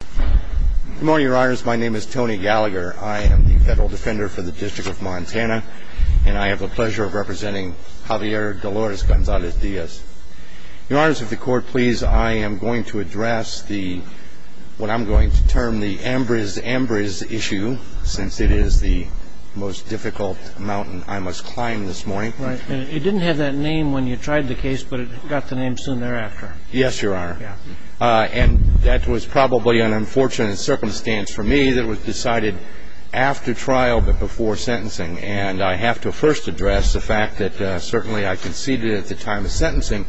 Good morning, your honors. My name is Tony Gallagher. I am the federal defender for the District of Montana, and I have the pleasure of representing Javier Dolores Gonzalez-Diaz. Your honors, if the court please, I am going to address the, what I'm going to term the Ambrose-Ambrose issue, since it is the most difficult mountain I must climb this morning. It didn't have that name when you tried the case, but it got the name soon thereafter. Yes, your honor, and that was probably an unfortunate circumstance for me that was decided after trial but before sentencing, and I have to first address the fact that certainly I conceded at the time of sentencing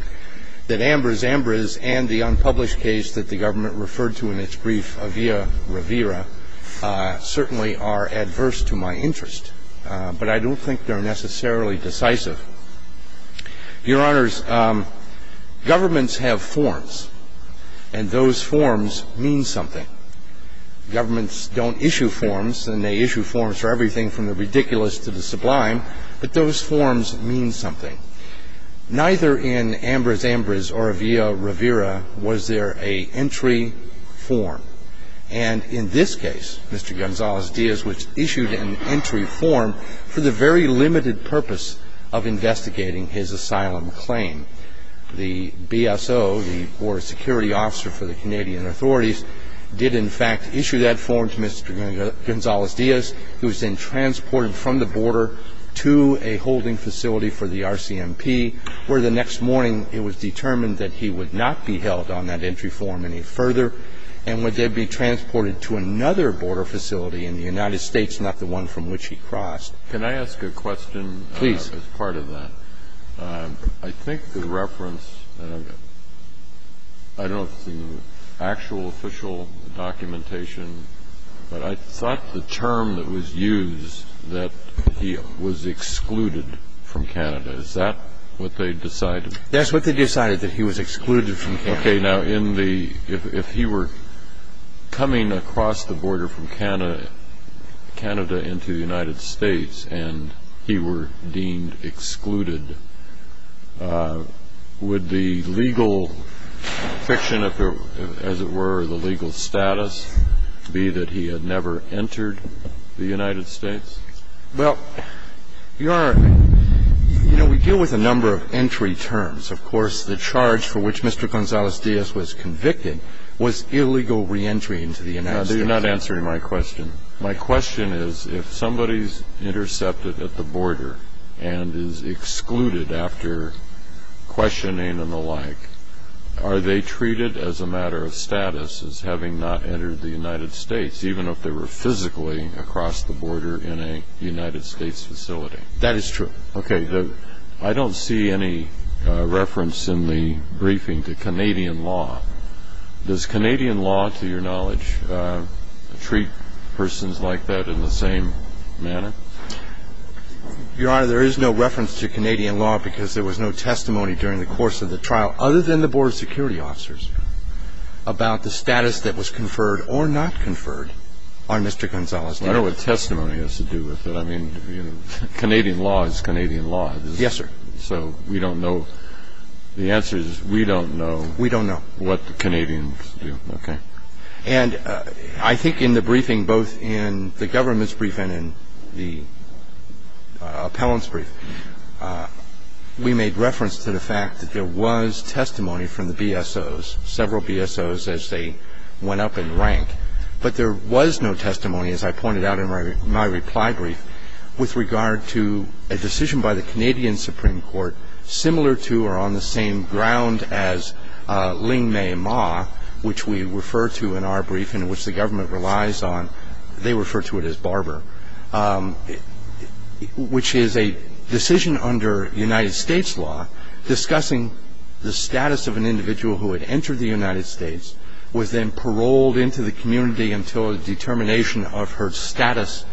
that Ambrose-Ambrose and the unpublished case that the government referred to in its brief, Avila-Rivera, certainly are adverse to my interest, but I don't think they're necessarily decisive. Your honors, governments have forms, and those forms mean something. Governments don't issue forms, and they issue forms for everything from the ridiculous to the sublime, but those forms mean something. Neither in Ambrose-Ambrose or Avila-Rivera was there a entry form. And in this case, Mr. Gonzalez-Diaz, which issued an entry form for the very limited purpose of investigating his asylum claim, the BSO, the border security officer for the Canadian authorities, did in fact issue that form to Mr. Gonzalez-Diaz, who was then transported from the border to a holding facility for the RCMP, where the next morning it was determined that he would not be held on that entry form any further and would then be transported to another border facility in the United States, not the one from which he crossed. Can I ask a question? Please. As part of that. I think the reference, I don't know if it's in the actual official documentation, but I thought the term that was used that he was excluded from Canada, is that what they decided? That's what they decided, that he was excluded from Canada. Okay. Now, if he were coming across the border from Canada into the United States and he were deemed excluded, would the legal friction, as it were, the legal status be that he had never entered the United States? Well, Your Honor, you know, we deal with a number of entry terms. Of course, the charge for which Mr. Gonzalez-Diaz was convicted was illegal reentry into the United States. You're not answering my question. My question is, if somebody is intercepted at the border and is excluded after questioning and the like, are they treated as a matter of status as having not entered the United States, even if they were physically across the border in a United States facility? That is true. Okay. I don't see any reference in the briefing to Canadian law. Does Canadian law, to your knowledge, treat persons like that in the same manner? Your Honor, there is no reference to Canadian law because there was no testimony during the course of the trial, other than the border security officers, about the status that was conferred or not conferred on Mr. Gonzalez-Diaz. I don't know what testimony has to do with it. I mean, Canadian law is Canadian law. Yes, sir. So we don't know. The answer is we don't know. We don't know. What the Canadians do. Okay. And I think in the briefing, both in the government's brief and in the appellant's brief, we made reference to the fact that there was testimony from the BSOs, several BSOs as they went up in rank, but there was no testimony, as I pointed out in my reply brief, with regard to a decision by the Canadian Supreme Court, similar to or on the same ground as Ling May Ma, which we refer to in our brief and which the government relies on. They refer to it as Barber, which is a decision under United States law discussing the status of an individual who had entered the United States, was then paroled into the community until a determination of her status.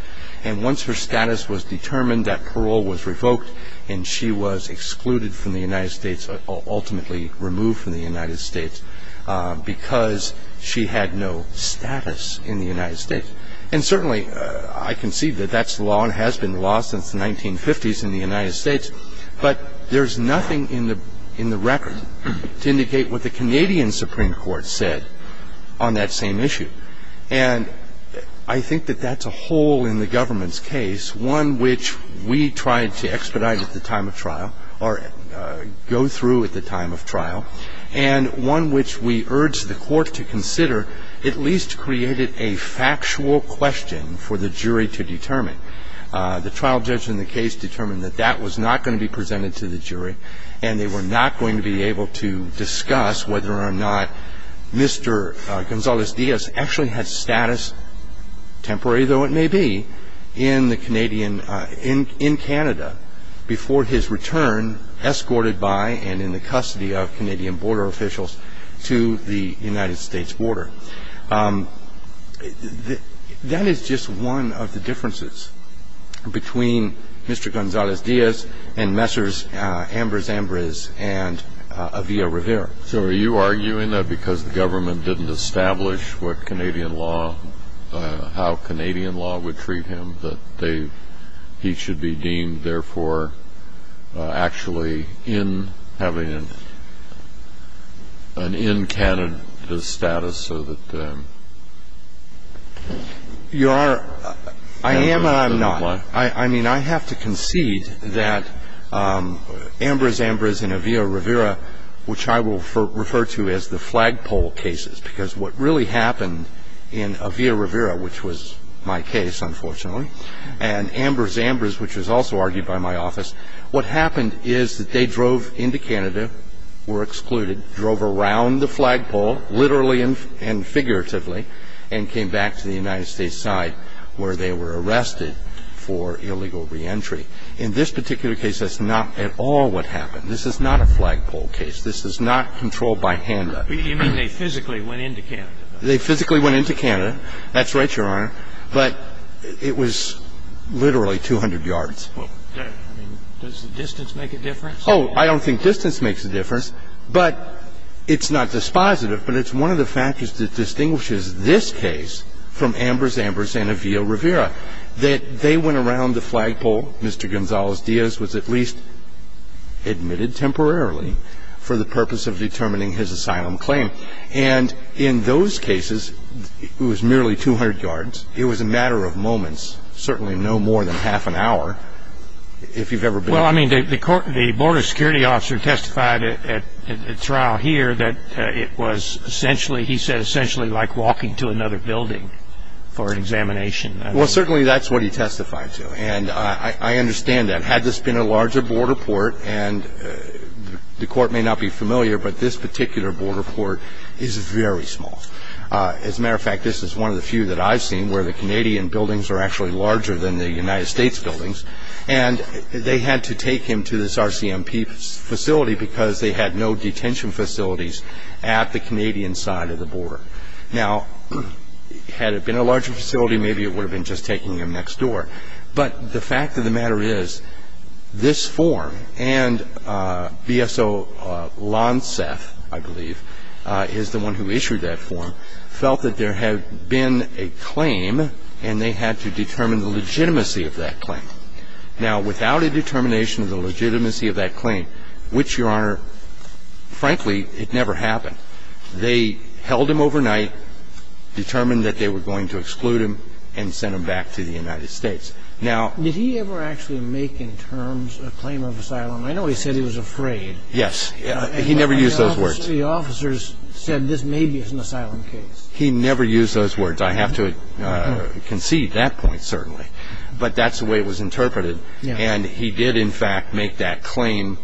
And once her status was determined, that parole was revoked and she was excluded from the United States, ultimately removed from the United States because she had no status in the United States. And certainly I can see that that's law and has been law since the 1950s in the United States, but there's nothing in the record to indicate what the Canadian Supreme Court said on that same issue. And I think that that's a hole in the government's case, one which we tried to expedite at the time of trial or go through at the time of trial, and one which we urged the Court to consider at least created a factual question for the jury to determine. The trial judge in the case determined that that was not going to be presented to the jury and they were not going to be able to discuss whether or not Mr. Gonzalez-Diaz actually had status, temporary though it may be, in Canada before his return, escorted by and in the custody of Canadian border officials to the United States border. That is just one of the differences between Mr. Gonzalez-Diaz and Messrs. Ambrose Ambrose and Avia Rivera. So are you arguing that because the government didn't establish what Canadian law, how Canadian law would treat him, that he should be deemed, therefore, actually in having an in Canada status so that... Your Honor, I am and I'm not. I mean, I have to concede that Ambrose Ambrose and Avia Rivera, which I will refer to as the flagpole cases, because what really happened in Avia Rivera, which was my case, unfortunately, and Ambrose Ambrose, which was also argued by my office, what happened is that they drove into Canada, were excluded, drove around the flagpole, literally and figuratively, and came back to the United States side where they were arrested for illegal reentry. In this particular case, that's not at all what happened. This is not a flagpole case. This is not controlled by HANDA. You mean they physically went into Canada? They physically went into Canada. That's right, Your Honor. But it was literally 200 yards. Well, I mean, does the distance make a difference? Oh, I don't think distance makes a difference. But it's not dispositive, but it's one of the factors that distinguishes this case from Ambrose Ambrose and Avia Rivera, that they went around the flagpole. Mr. Gonzales-Diaz was at least admitted temporarily for the purpose of determining his asylum claim. And in those cases, it was merely 200 yards. It was a matter of moments, certainly no more than half an hour, if you've ever been there. Well, I mean, the border security officer testified at trial here that it was essentially, he said, essentially like walking to another building for an examination. Well, certainly that's what he testified to, and I understand that. Had this been a larger border port, and the court may not be familiar, but this particular border port is very small. As a matter of fact, this is one of the few that I've seen where the Canadian buildings are actually larger than the United States buildings, and they had to take him to this RCMP facility because they had no detention facilities at the Canadian side of the border. Now, had it been a larger facility, maybe it would have been just taking him next door. But the fact of the matter is, this form and BSO Lonseth, I believe, is the one who issued that form, felt that there had been a claim and they had to determine the legitimacy of that claim. Now, without a determination of the legitimacy of that claim, which, Your Honor, frankly, it never happened, they held him overnight, determined that they were going to exclude him, and sent him back to the United States. Now... Did he ever actually make, in terms, a claim of asylum? I know he said he was afraid. Yes, he never used those words. The officers said, this may be an asylum case. He never used those words. I have to concede that point, certainly. But that's the way it was interpreted, and he did, in fact, make that claim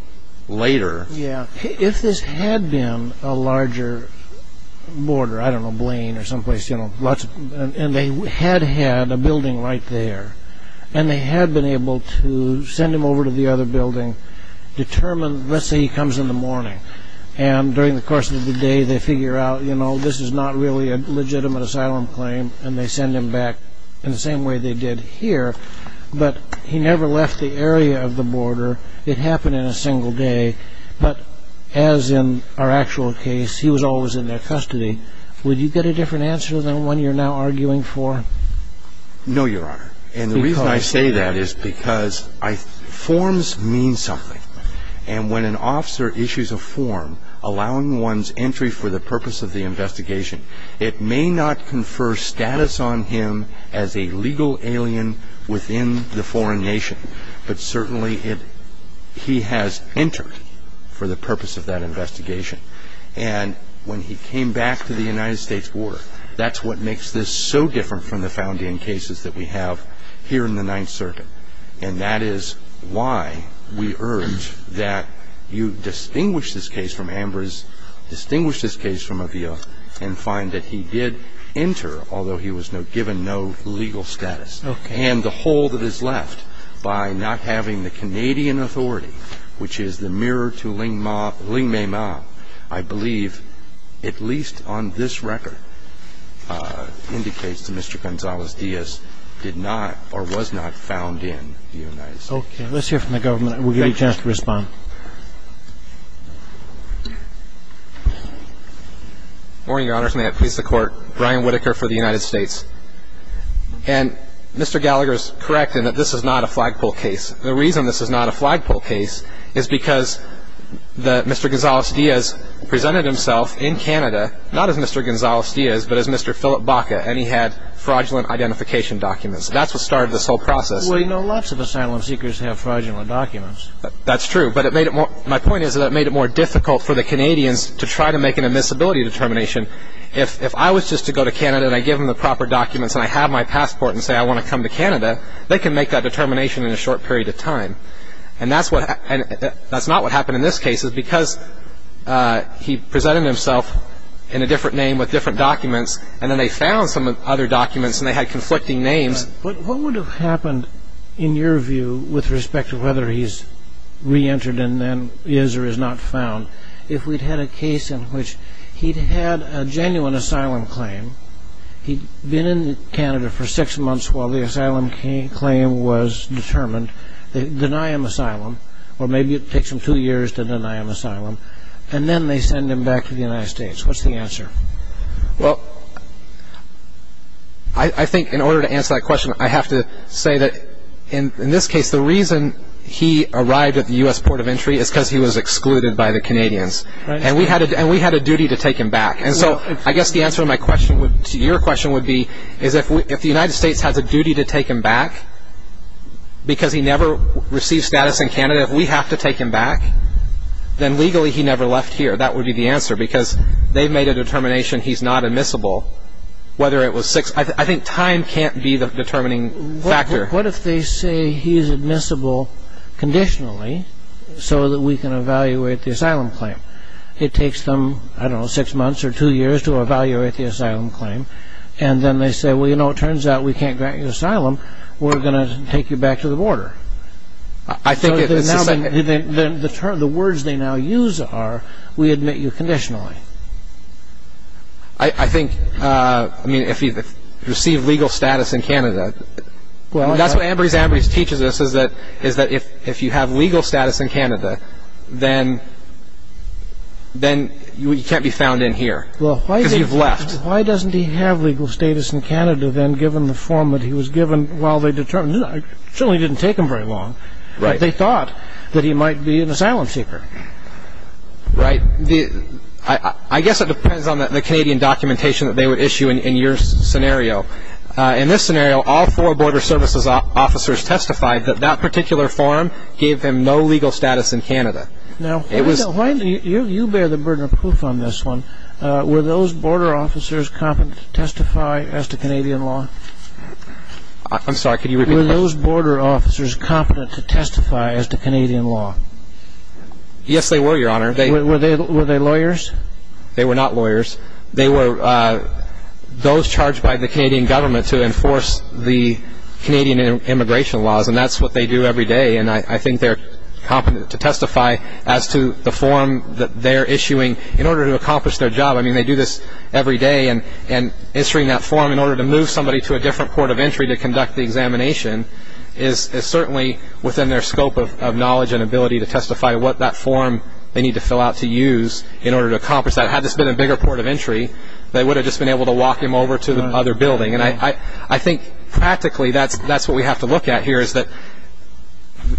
later. Yeah. If this had been a larger border, I don't know, Blaine or someplace, you know, lots of... And they had had a building right there. And they had been able to send him over to the other building, determine, let's say he comes in the morning, and during the course of the day, they figure out, you know, this is not really a legitimate asylum claim, and they send him back in the same way they did here. But he never left the area of the border. It happened in a single day. But as in our actual case, he was always in their custody. Would you get a different answer than the one you're now arguing for? No, Your Honor. And the reason I say that is because forms mean something. And when an officer issues a form allowing one's entry for the purpose of the investigation, it may not confer status on him as a legal alien within the foreign nation, but certainly he has entered for the purpose of that investigation. And when he came back to the United States border, that's what makes this so different from the founding cases that we have here in the Ninth Circuit. And that is why we urge that you distinguish this case from Amber's, distinguish this case from Avila, and find that he did enter, although he was given no legal status. And the hole that is left by not having the Canadian authority, which is the mirror to Lingmay Ma, I believe, at least on this record, indicates that Mr. Gonzalez-Diaz did not or was not found in the United States. Okay. Let's hear from the government. We'll give you a chance to respond. Morning, Your Honors. May it please the Court. Brian Whitaker for the United States. And Mr. Gallagher is correct in that this is not a flagpole case. The reason this is not a flagpole case is because Mr. Gonzalez-Diaz presented himself in Canada, not as Mr. Gonzalez-Diaz, but as Mr. Philip Baca, and he had fraudulent identification documents. That's what started this whole process. Well, you know, lots of asylum seekers have fraudulent documents. That's true. But my point is that it made it more difficult for the Canadians to try to make an admissibility determination. If I was just to go to Canada and I give them the proper documents and I have my passport and say I want to come to Canada, they can make that determination in a short period of time. And that's not what happened in this case. It's because he presented himself in a different name with different documents, and then they found some other documents and they had conflicting names. But what would have happened, in your view, with respect to whether he's reentered and then is or is not found, if we'd had a case in which he'd had a genuine asylum claim, he'd been in Canada for six months while the asylum claim was determined, they deny him asylum, or maybe it takes them two years to deny him asylum, and then they send him back to the United States. What's the answer? Well, I think in order to answer that question, I have to say that in this case, the reason he arrived at the U.S. Port of Entry is because he was excluded by the Canadians. And we had a duty to take him back. And so I guess the answer to your question would be, is if the United States has a duty to take him back because he never received status in Canada, if we have to take him back, then legally he never left here. That would be the answer, because they made a determination he's not admissible, whether it was six. I think time can't be the determining factor. What if they say he's admissible conditionally so that we can evaluate the asylum claim? It takes them, I don't know, six months or two years to evaluate the asylum claim. And then they say, well, you know, it turns out we can't grant you asylum. We're going to take you back to the border. So the words they now use are, we admit you conditionally. I think, I mean, if he received legal status in Canada, that's what Ambrose Ambrose teaches us is that if you have legal status in Canada, then you can't be found in here because you've left. Well, why doesn't he have legal status in Canada then given the form that he was given while they determined? It certainly didn't take them very long, but they thought that he might be an asylum seeker. Right. I guess it depends on the Canadian documentation that they would issue in your scenario. In this scenario, all four border services officers testified that that particular form gave him no legal status in Canada. Now, you bear the burden of proof on this one. Were those border officers competent to testify as to Canadian law? I'm sorry, could you repeat the question? Were those border officers competent to testify as to Canadian law? Yes, they were, Your Honor. Were they lawyers? They were not lawyers. They were those charged by the Canadian government to enforce the Canadian immigration laws, and that's what they do every day, and I think they're competent to testify as to the form that they're issuing. In order to accomplish their job, I mean, they do this every day, and issuing that form in order to move somebody to a different port of entry to conduct the examination is certainly within their scope of knowledge and ability to testify what that form they need to fill out to use in order to accomplish that. Had this been a bigger port of entry, they would have just been able to walk him over to the other building. And I think practically that's what we have to look at here, is that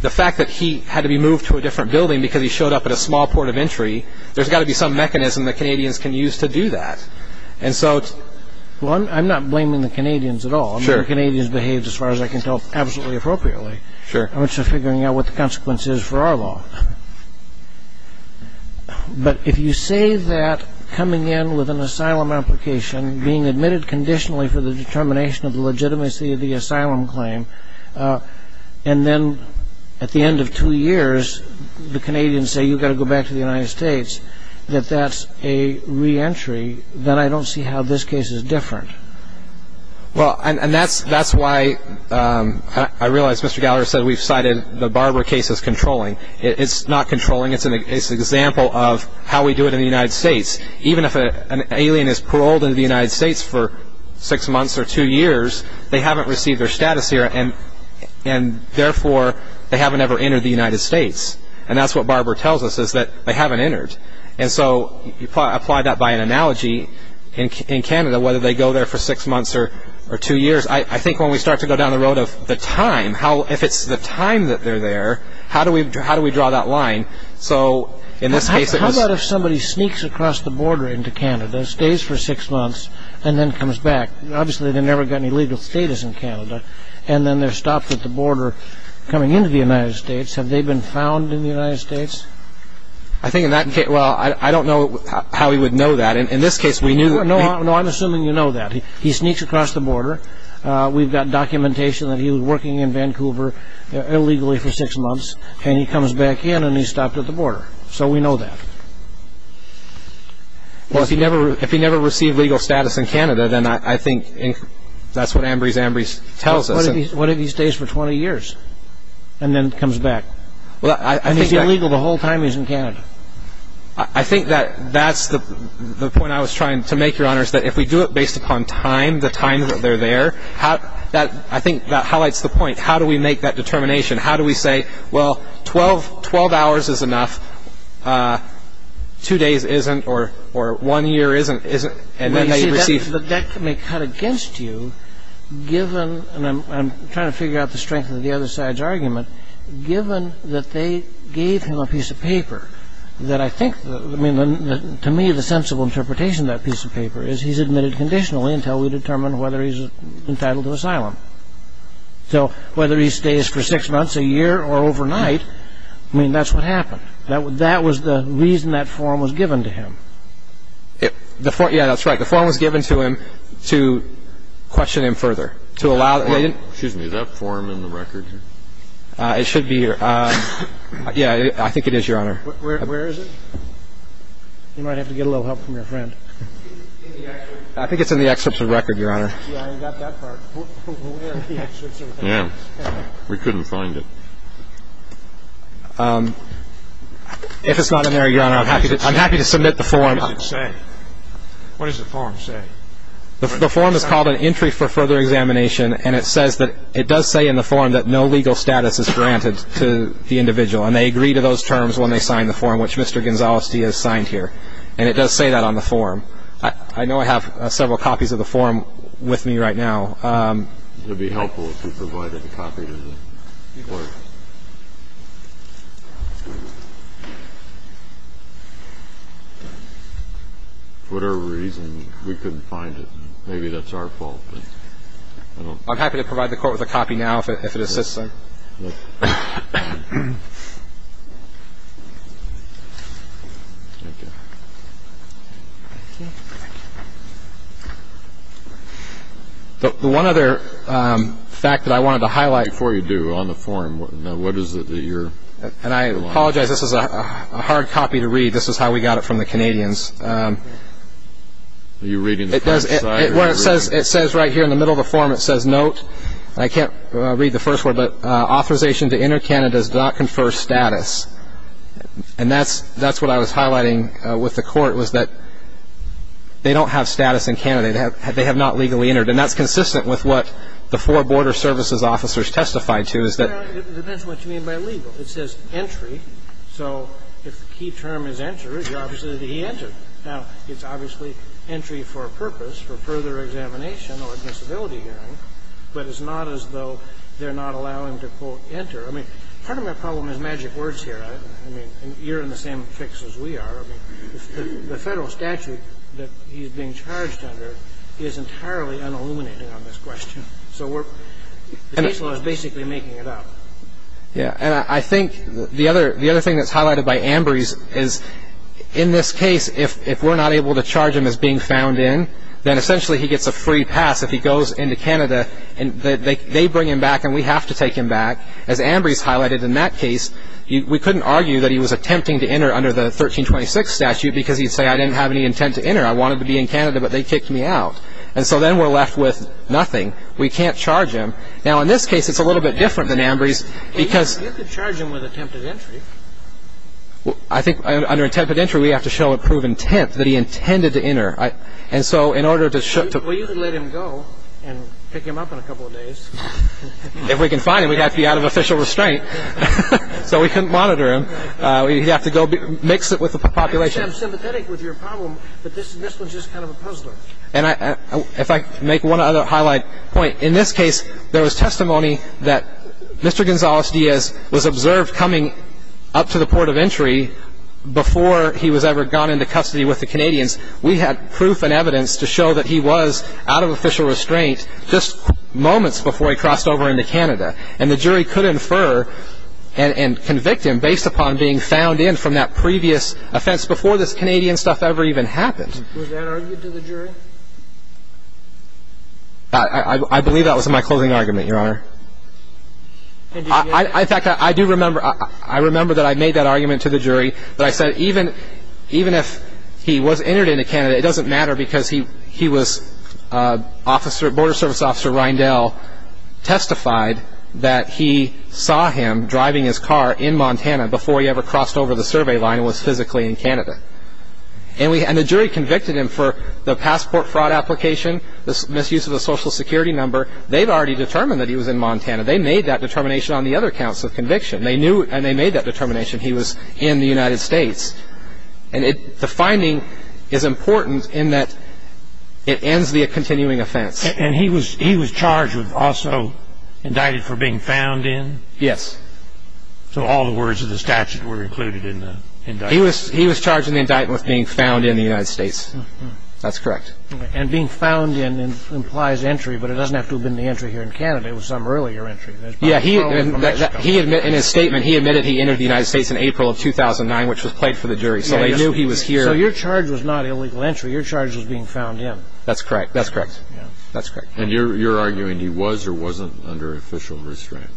the fact that he had to be moved to a different building because he showed up at a small port of entry, there's got to be some mechanism that Canadians can use to do that. Well, I'm not blaming the Canadians at all. I mean, the Canadians behaved, as far as I can tell, absolutely appropriately. I'm just figuring out what the consequence is for our law. But if you say that coming in with an asylum application, being admitted conditionally for the determination of the legitimacy of the asylum claim, and then at the end of two years the Canadians say, you've got to go back to the United States, that that's a reentry, then I don't see how this case is different. Well, and that's why I realize Mr. Gallagher said we've cited the Barbara case as controlling. It's not controlling. It's an example of how we do it in the United States. Even if an alien is paroled into the United States for six months or two years, they haven't received their status here, and therefore they haven't ever entered the United States. And that's what Barbara tells us, is that they haven't entered. And so you apply that by an analogy in Canada, whether they go there for six months or two years. I think when we start to go down the road of the time, if it's the time that they're there, how do we draw that line? How about if somebody sneaks across the border into Canada, stays for six months, and then comes back? Obviously they've never got any legal status in Canada, and then they're stopped at the border coming into the United States. Have they been found in the United States? I think in that case, well, I don't know how we would know that. In this case we knew. No, I'm assuming you know that. He sneaks across the border. We've got documentation that he was working in Vancouver illegally for six months, and he comes back in and he's stopped at the border. So we know that. Well, if he never received legal status in Canada, then I think that's what Ambrose Ambrose tells us. What if he stays for 20 years and then comes back? And he's illegal the whole time he's in Canada. I think that's the point I was trying to make, Your Honor, is that if we do it based upon time, the time that they're there, I think that highlights the point. How do we make that determination? How do we say, well, 12 hours is enough, two days isn't, or one year isn't, and then they receive. That may cut against you given, and I'm trying to figure out the strength of the other side's argument, given that they gave him a piece of paper that I think, I mean, to me, the sensible interpretation of that piece of paper is he's admitted conditionally So whether he stays for six months, a year, or overnight, I mean, that's what happened. That was the reason that form was given to him. Yeah, that's right. The form was given to him to question him further. Excuse me. Is that form in the record here? It should be here. Yeah, I think it is, Your Honor. Where is it? You might have to get a little help from your friend. I think it's in the excerpts of record, Your Honor. Yeah, I got that part. Yeah, we couldn't find it. If it's not in there, Your Honor, I'm happy to submit the form. What does it say? What does the form say? The form is called an entry for further examination, and it says that it does say in the form that no legal status is granted to the individual, and they agree to those terms when they sign the form, which Mr. Gonzales-Diaz signed here, and it does say that on the form. I know I have several copies of the form with me right now. It would be helpful if you provided a copy to the court. For whatever reason, we couldn't find it. Maybe that's our fault. I'm happy to provide the court with a copy now if it assists them. The one other fact that I wanted to highlight. Before you do, on the form, what is it that you're? And I apologize. This is a hard copy to read. This is how we got it from the Canadians. Are you reading the front side? It says right here in the middle of the form, it says, Note, I can't read the first word, but authorization to enter Canada does not confer status. And that's what I was highlighting with the court was that they don't have status in Canada. They have not legally entered, and that's consistent with what the four border services officers testified to is that. It depends what you mean by legal. It says entry. So if the key term is enter, it's obviously that he entered. Now, it's obviously entry for a purpose, for further examination or admissibility hearing, but it's not as though they're not allowing him to, quote, enter. I mean, part of my problem is magic words here. I mean, you're in the same fix as we are. I mean, the federal statute that he's being charged under is entirely unilluminated on this question. So the case law is basically making it up. Yeah, and I think the other thing that's highlighted by Ambrose is in this case, if we're not able to charge him as being found in, then essentially he gets a free pass. If he goes into Canada, they bring him back and we have to take him back. As Ambrose highlighted in that case, we couldn't argue that he was attempting to enter under the 1326 statute because he'd say, I didn't have any intent to enter. I wanted to be in Canada, but they kicked me out. And so then we're left with nothing. We can't charge him. Now, in this case, it's a little bit different than Ambrose because- You could charge him with attempted entry. I think under attempted entry, we have to show a proven intent that he intended to enter. And so in order to- Well, you could let him go and pick him up in a couple of days. If we can find him, we'd have to be out of official restraint. So we couldn't monitor him. We'd have to go mix it with the population. I'm sympathetic with your problem, but this one's just kind of a puzzler. And if I make one other highlight point, in this case there was testimony that Mr. Gonzales-Diaz was observed coming up to the port of entry before he was ever gone into custody with the Canadians. We had proof and evidence to show that he was out of official restraint just moments before he crossed over into Canada. And the jury could infer and convict him based upon being found in from that previous offense before this Canadian stuff ever even happened. Was that argued to the jury? I believe that was my closing argument, Your Honor. In fact, I do remember-I remember that I made that argument to the jury, that I said even if he was entered into Canada, it doesn't matter because he was-Border Service Officer Reyndell testified that he saw him driving his car in Montana before he ever crossed over the survey line and was physically in Canada. And the jury convicted him for the passport fraud application, the misuse of a social security number. They'd already determined that he was in Montana. They made that determination on the other counts of conviction. They knew and they made that determination he was in the United States. And the finding is important in that it ends the continuing offense. And he was charged with also indicted for being found in? Yes. So all the words of the statute were included in the indictment? He was charged in the indictment with being found in the United States. That's correct. And being found in implies entry, but it doesn't have to have been the entry here in Canada. It was some earlier entry. Yeah. In his statement, he admitted he entered the United States in April of 2009, which was played for the jury. So they knew he was here. So your charge was not illegal entry. Your charge was being found in. That's correct. That's correct. And you're arguing he was or wasn't under official restraint?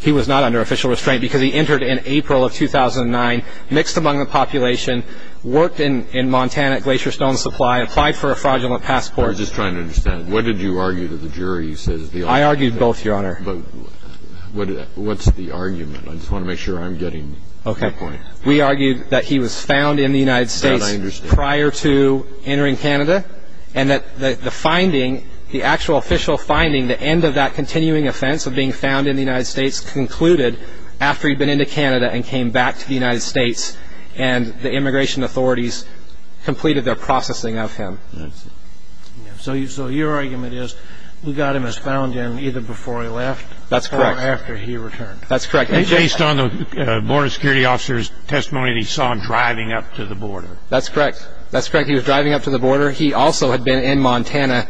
He was not under official restraint because he entered in April of 2009, mixed among the population, worked in Montana at Glacier Stone Supply, applied for a fraudulent passport. I was just trying to understand. What did you argue that the jury says? I argued both, Your Honor. But what's the argument? I just want to make sure I'm getting your point. Okay. We argued that he was found in the United States prior to entering Canada and that the finding, the actual official finding, the end of that continuing offense of being found in the United States concluded after he'd been into Canada and came back to the United States and the immigration authorities completed their processing of him. I see. So your argument is we got him as found in either before he left or after he returned. That's correct. That's correct. Based on the border security officer's testimony that he saw him driving up to the border. That's correct. That's correct. He was driving up to the border. He also had been in Montana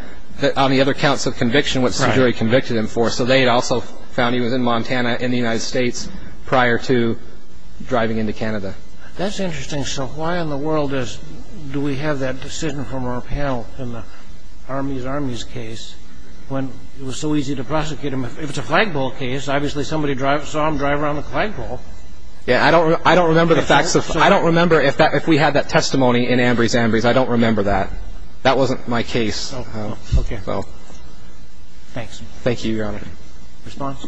on the other counts of conviction, which the jury convicted him for. So they had also found he was in Montana in the United States prior to driving into Canada. That's interesting. So why in the world do we have that decision from our panel in the Army's Army's case when it was so easy to prosecute him? If it's a flagpole case, obviously somebody saw him drive around the flagpole. Yeah, I don't remember the facts. I don't remember if we had that testimony in Ambry's Ambry's. I don't remember that. That wasn't my case. Okay. Thanks. Thank you, Your Honor. Response?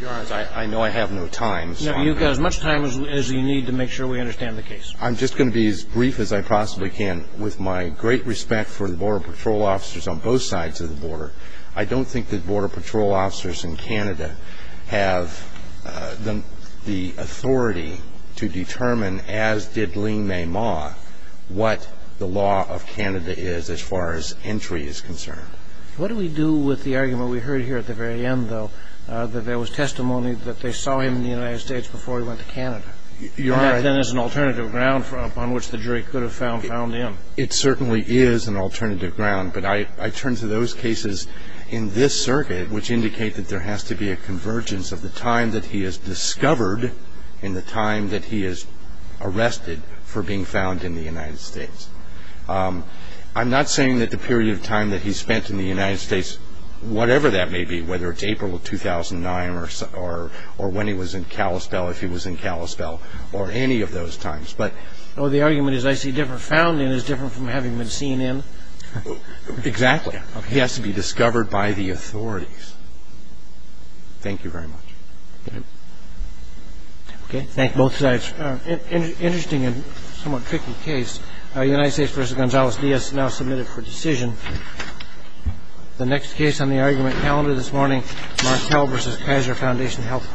Your Honor, I know I have no time. No, you've got as much time as you need to make sure we understand the case. I'm just going to be as brief as I possibly can. With my great respect for the Border Patrol officers on both sides of the border, I don't think that Border Patrol officers in Canada have the authority to determine, as did Lien-Mei Ma, what the law of Canada is as far as entry is concerned. What do we do with the argument we heard here at the very end, though, that there was testimony that they saw him in the United States before he went to Canada? Your Honor. And that then is an alternative ground upon which the jury could have found him. It certainly is an alternative ground. But I turn to those cases in this circuit, which indicate that there has to be a convergence of the time that he is discovered and the time that he is arrested for being found in the United States. I'm not saying that the period of time that he spent in the United States, whatever that may be, whether it's April of 2009 or when he was in Kalispell, if he was in Kalispell, or any of those times. Well, the argument is I see different. Found in is different from having been seen in. Exactly. He has to be discovered by the authorities. Thank you very much. Thank you. Okay. Thank you. Both sides. Interesting and somewhat tricky case. United States v. Gonzales-Diaz now submitted for decision. The next case on the argument calendar this morning, Markell v. Kaiser Foundation Health Fund.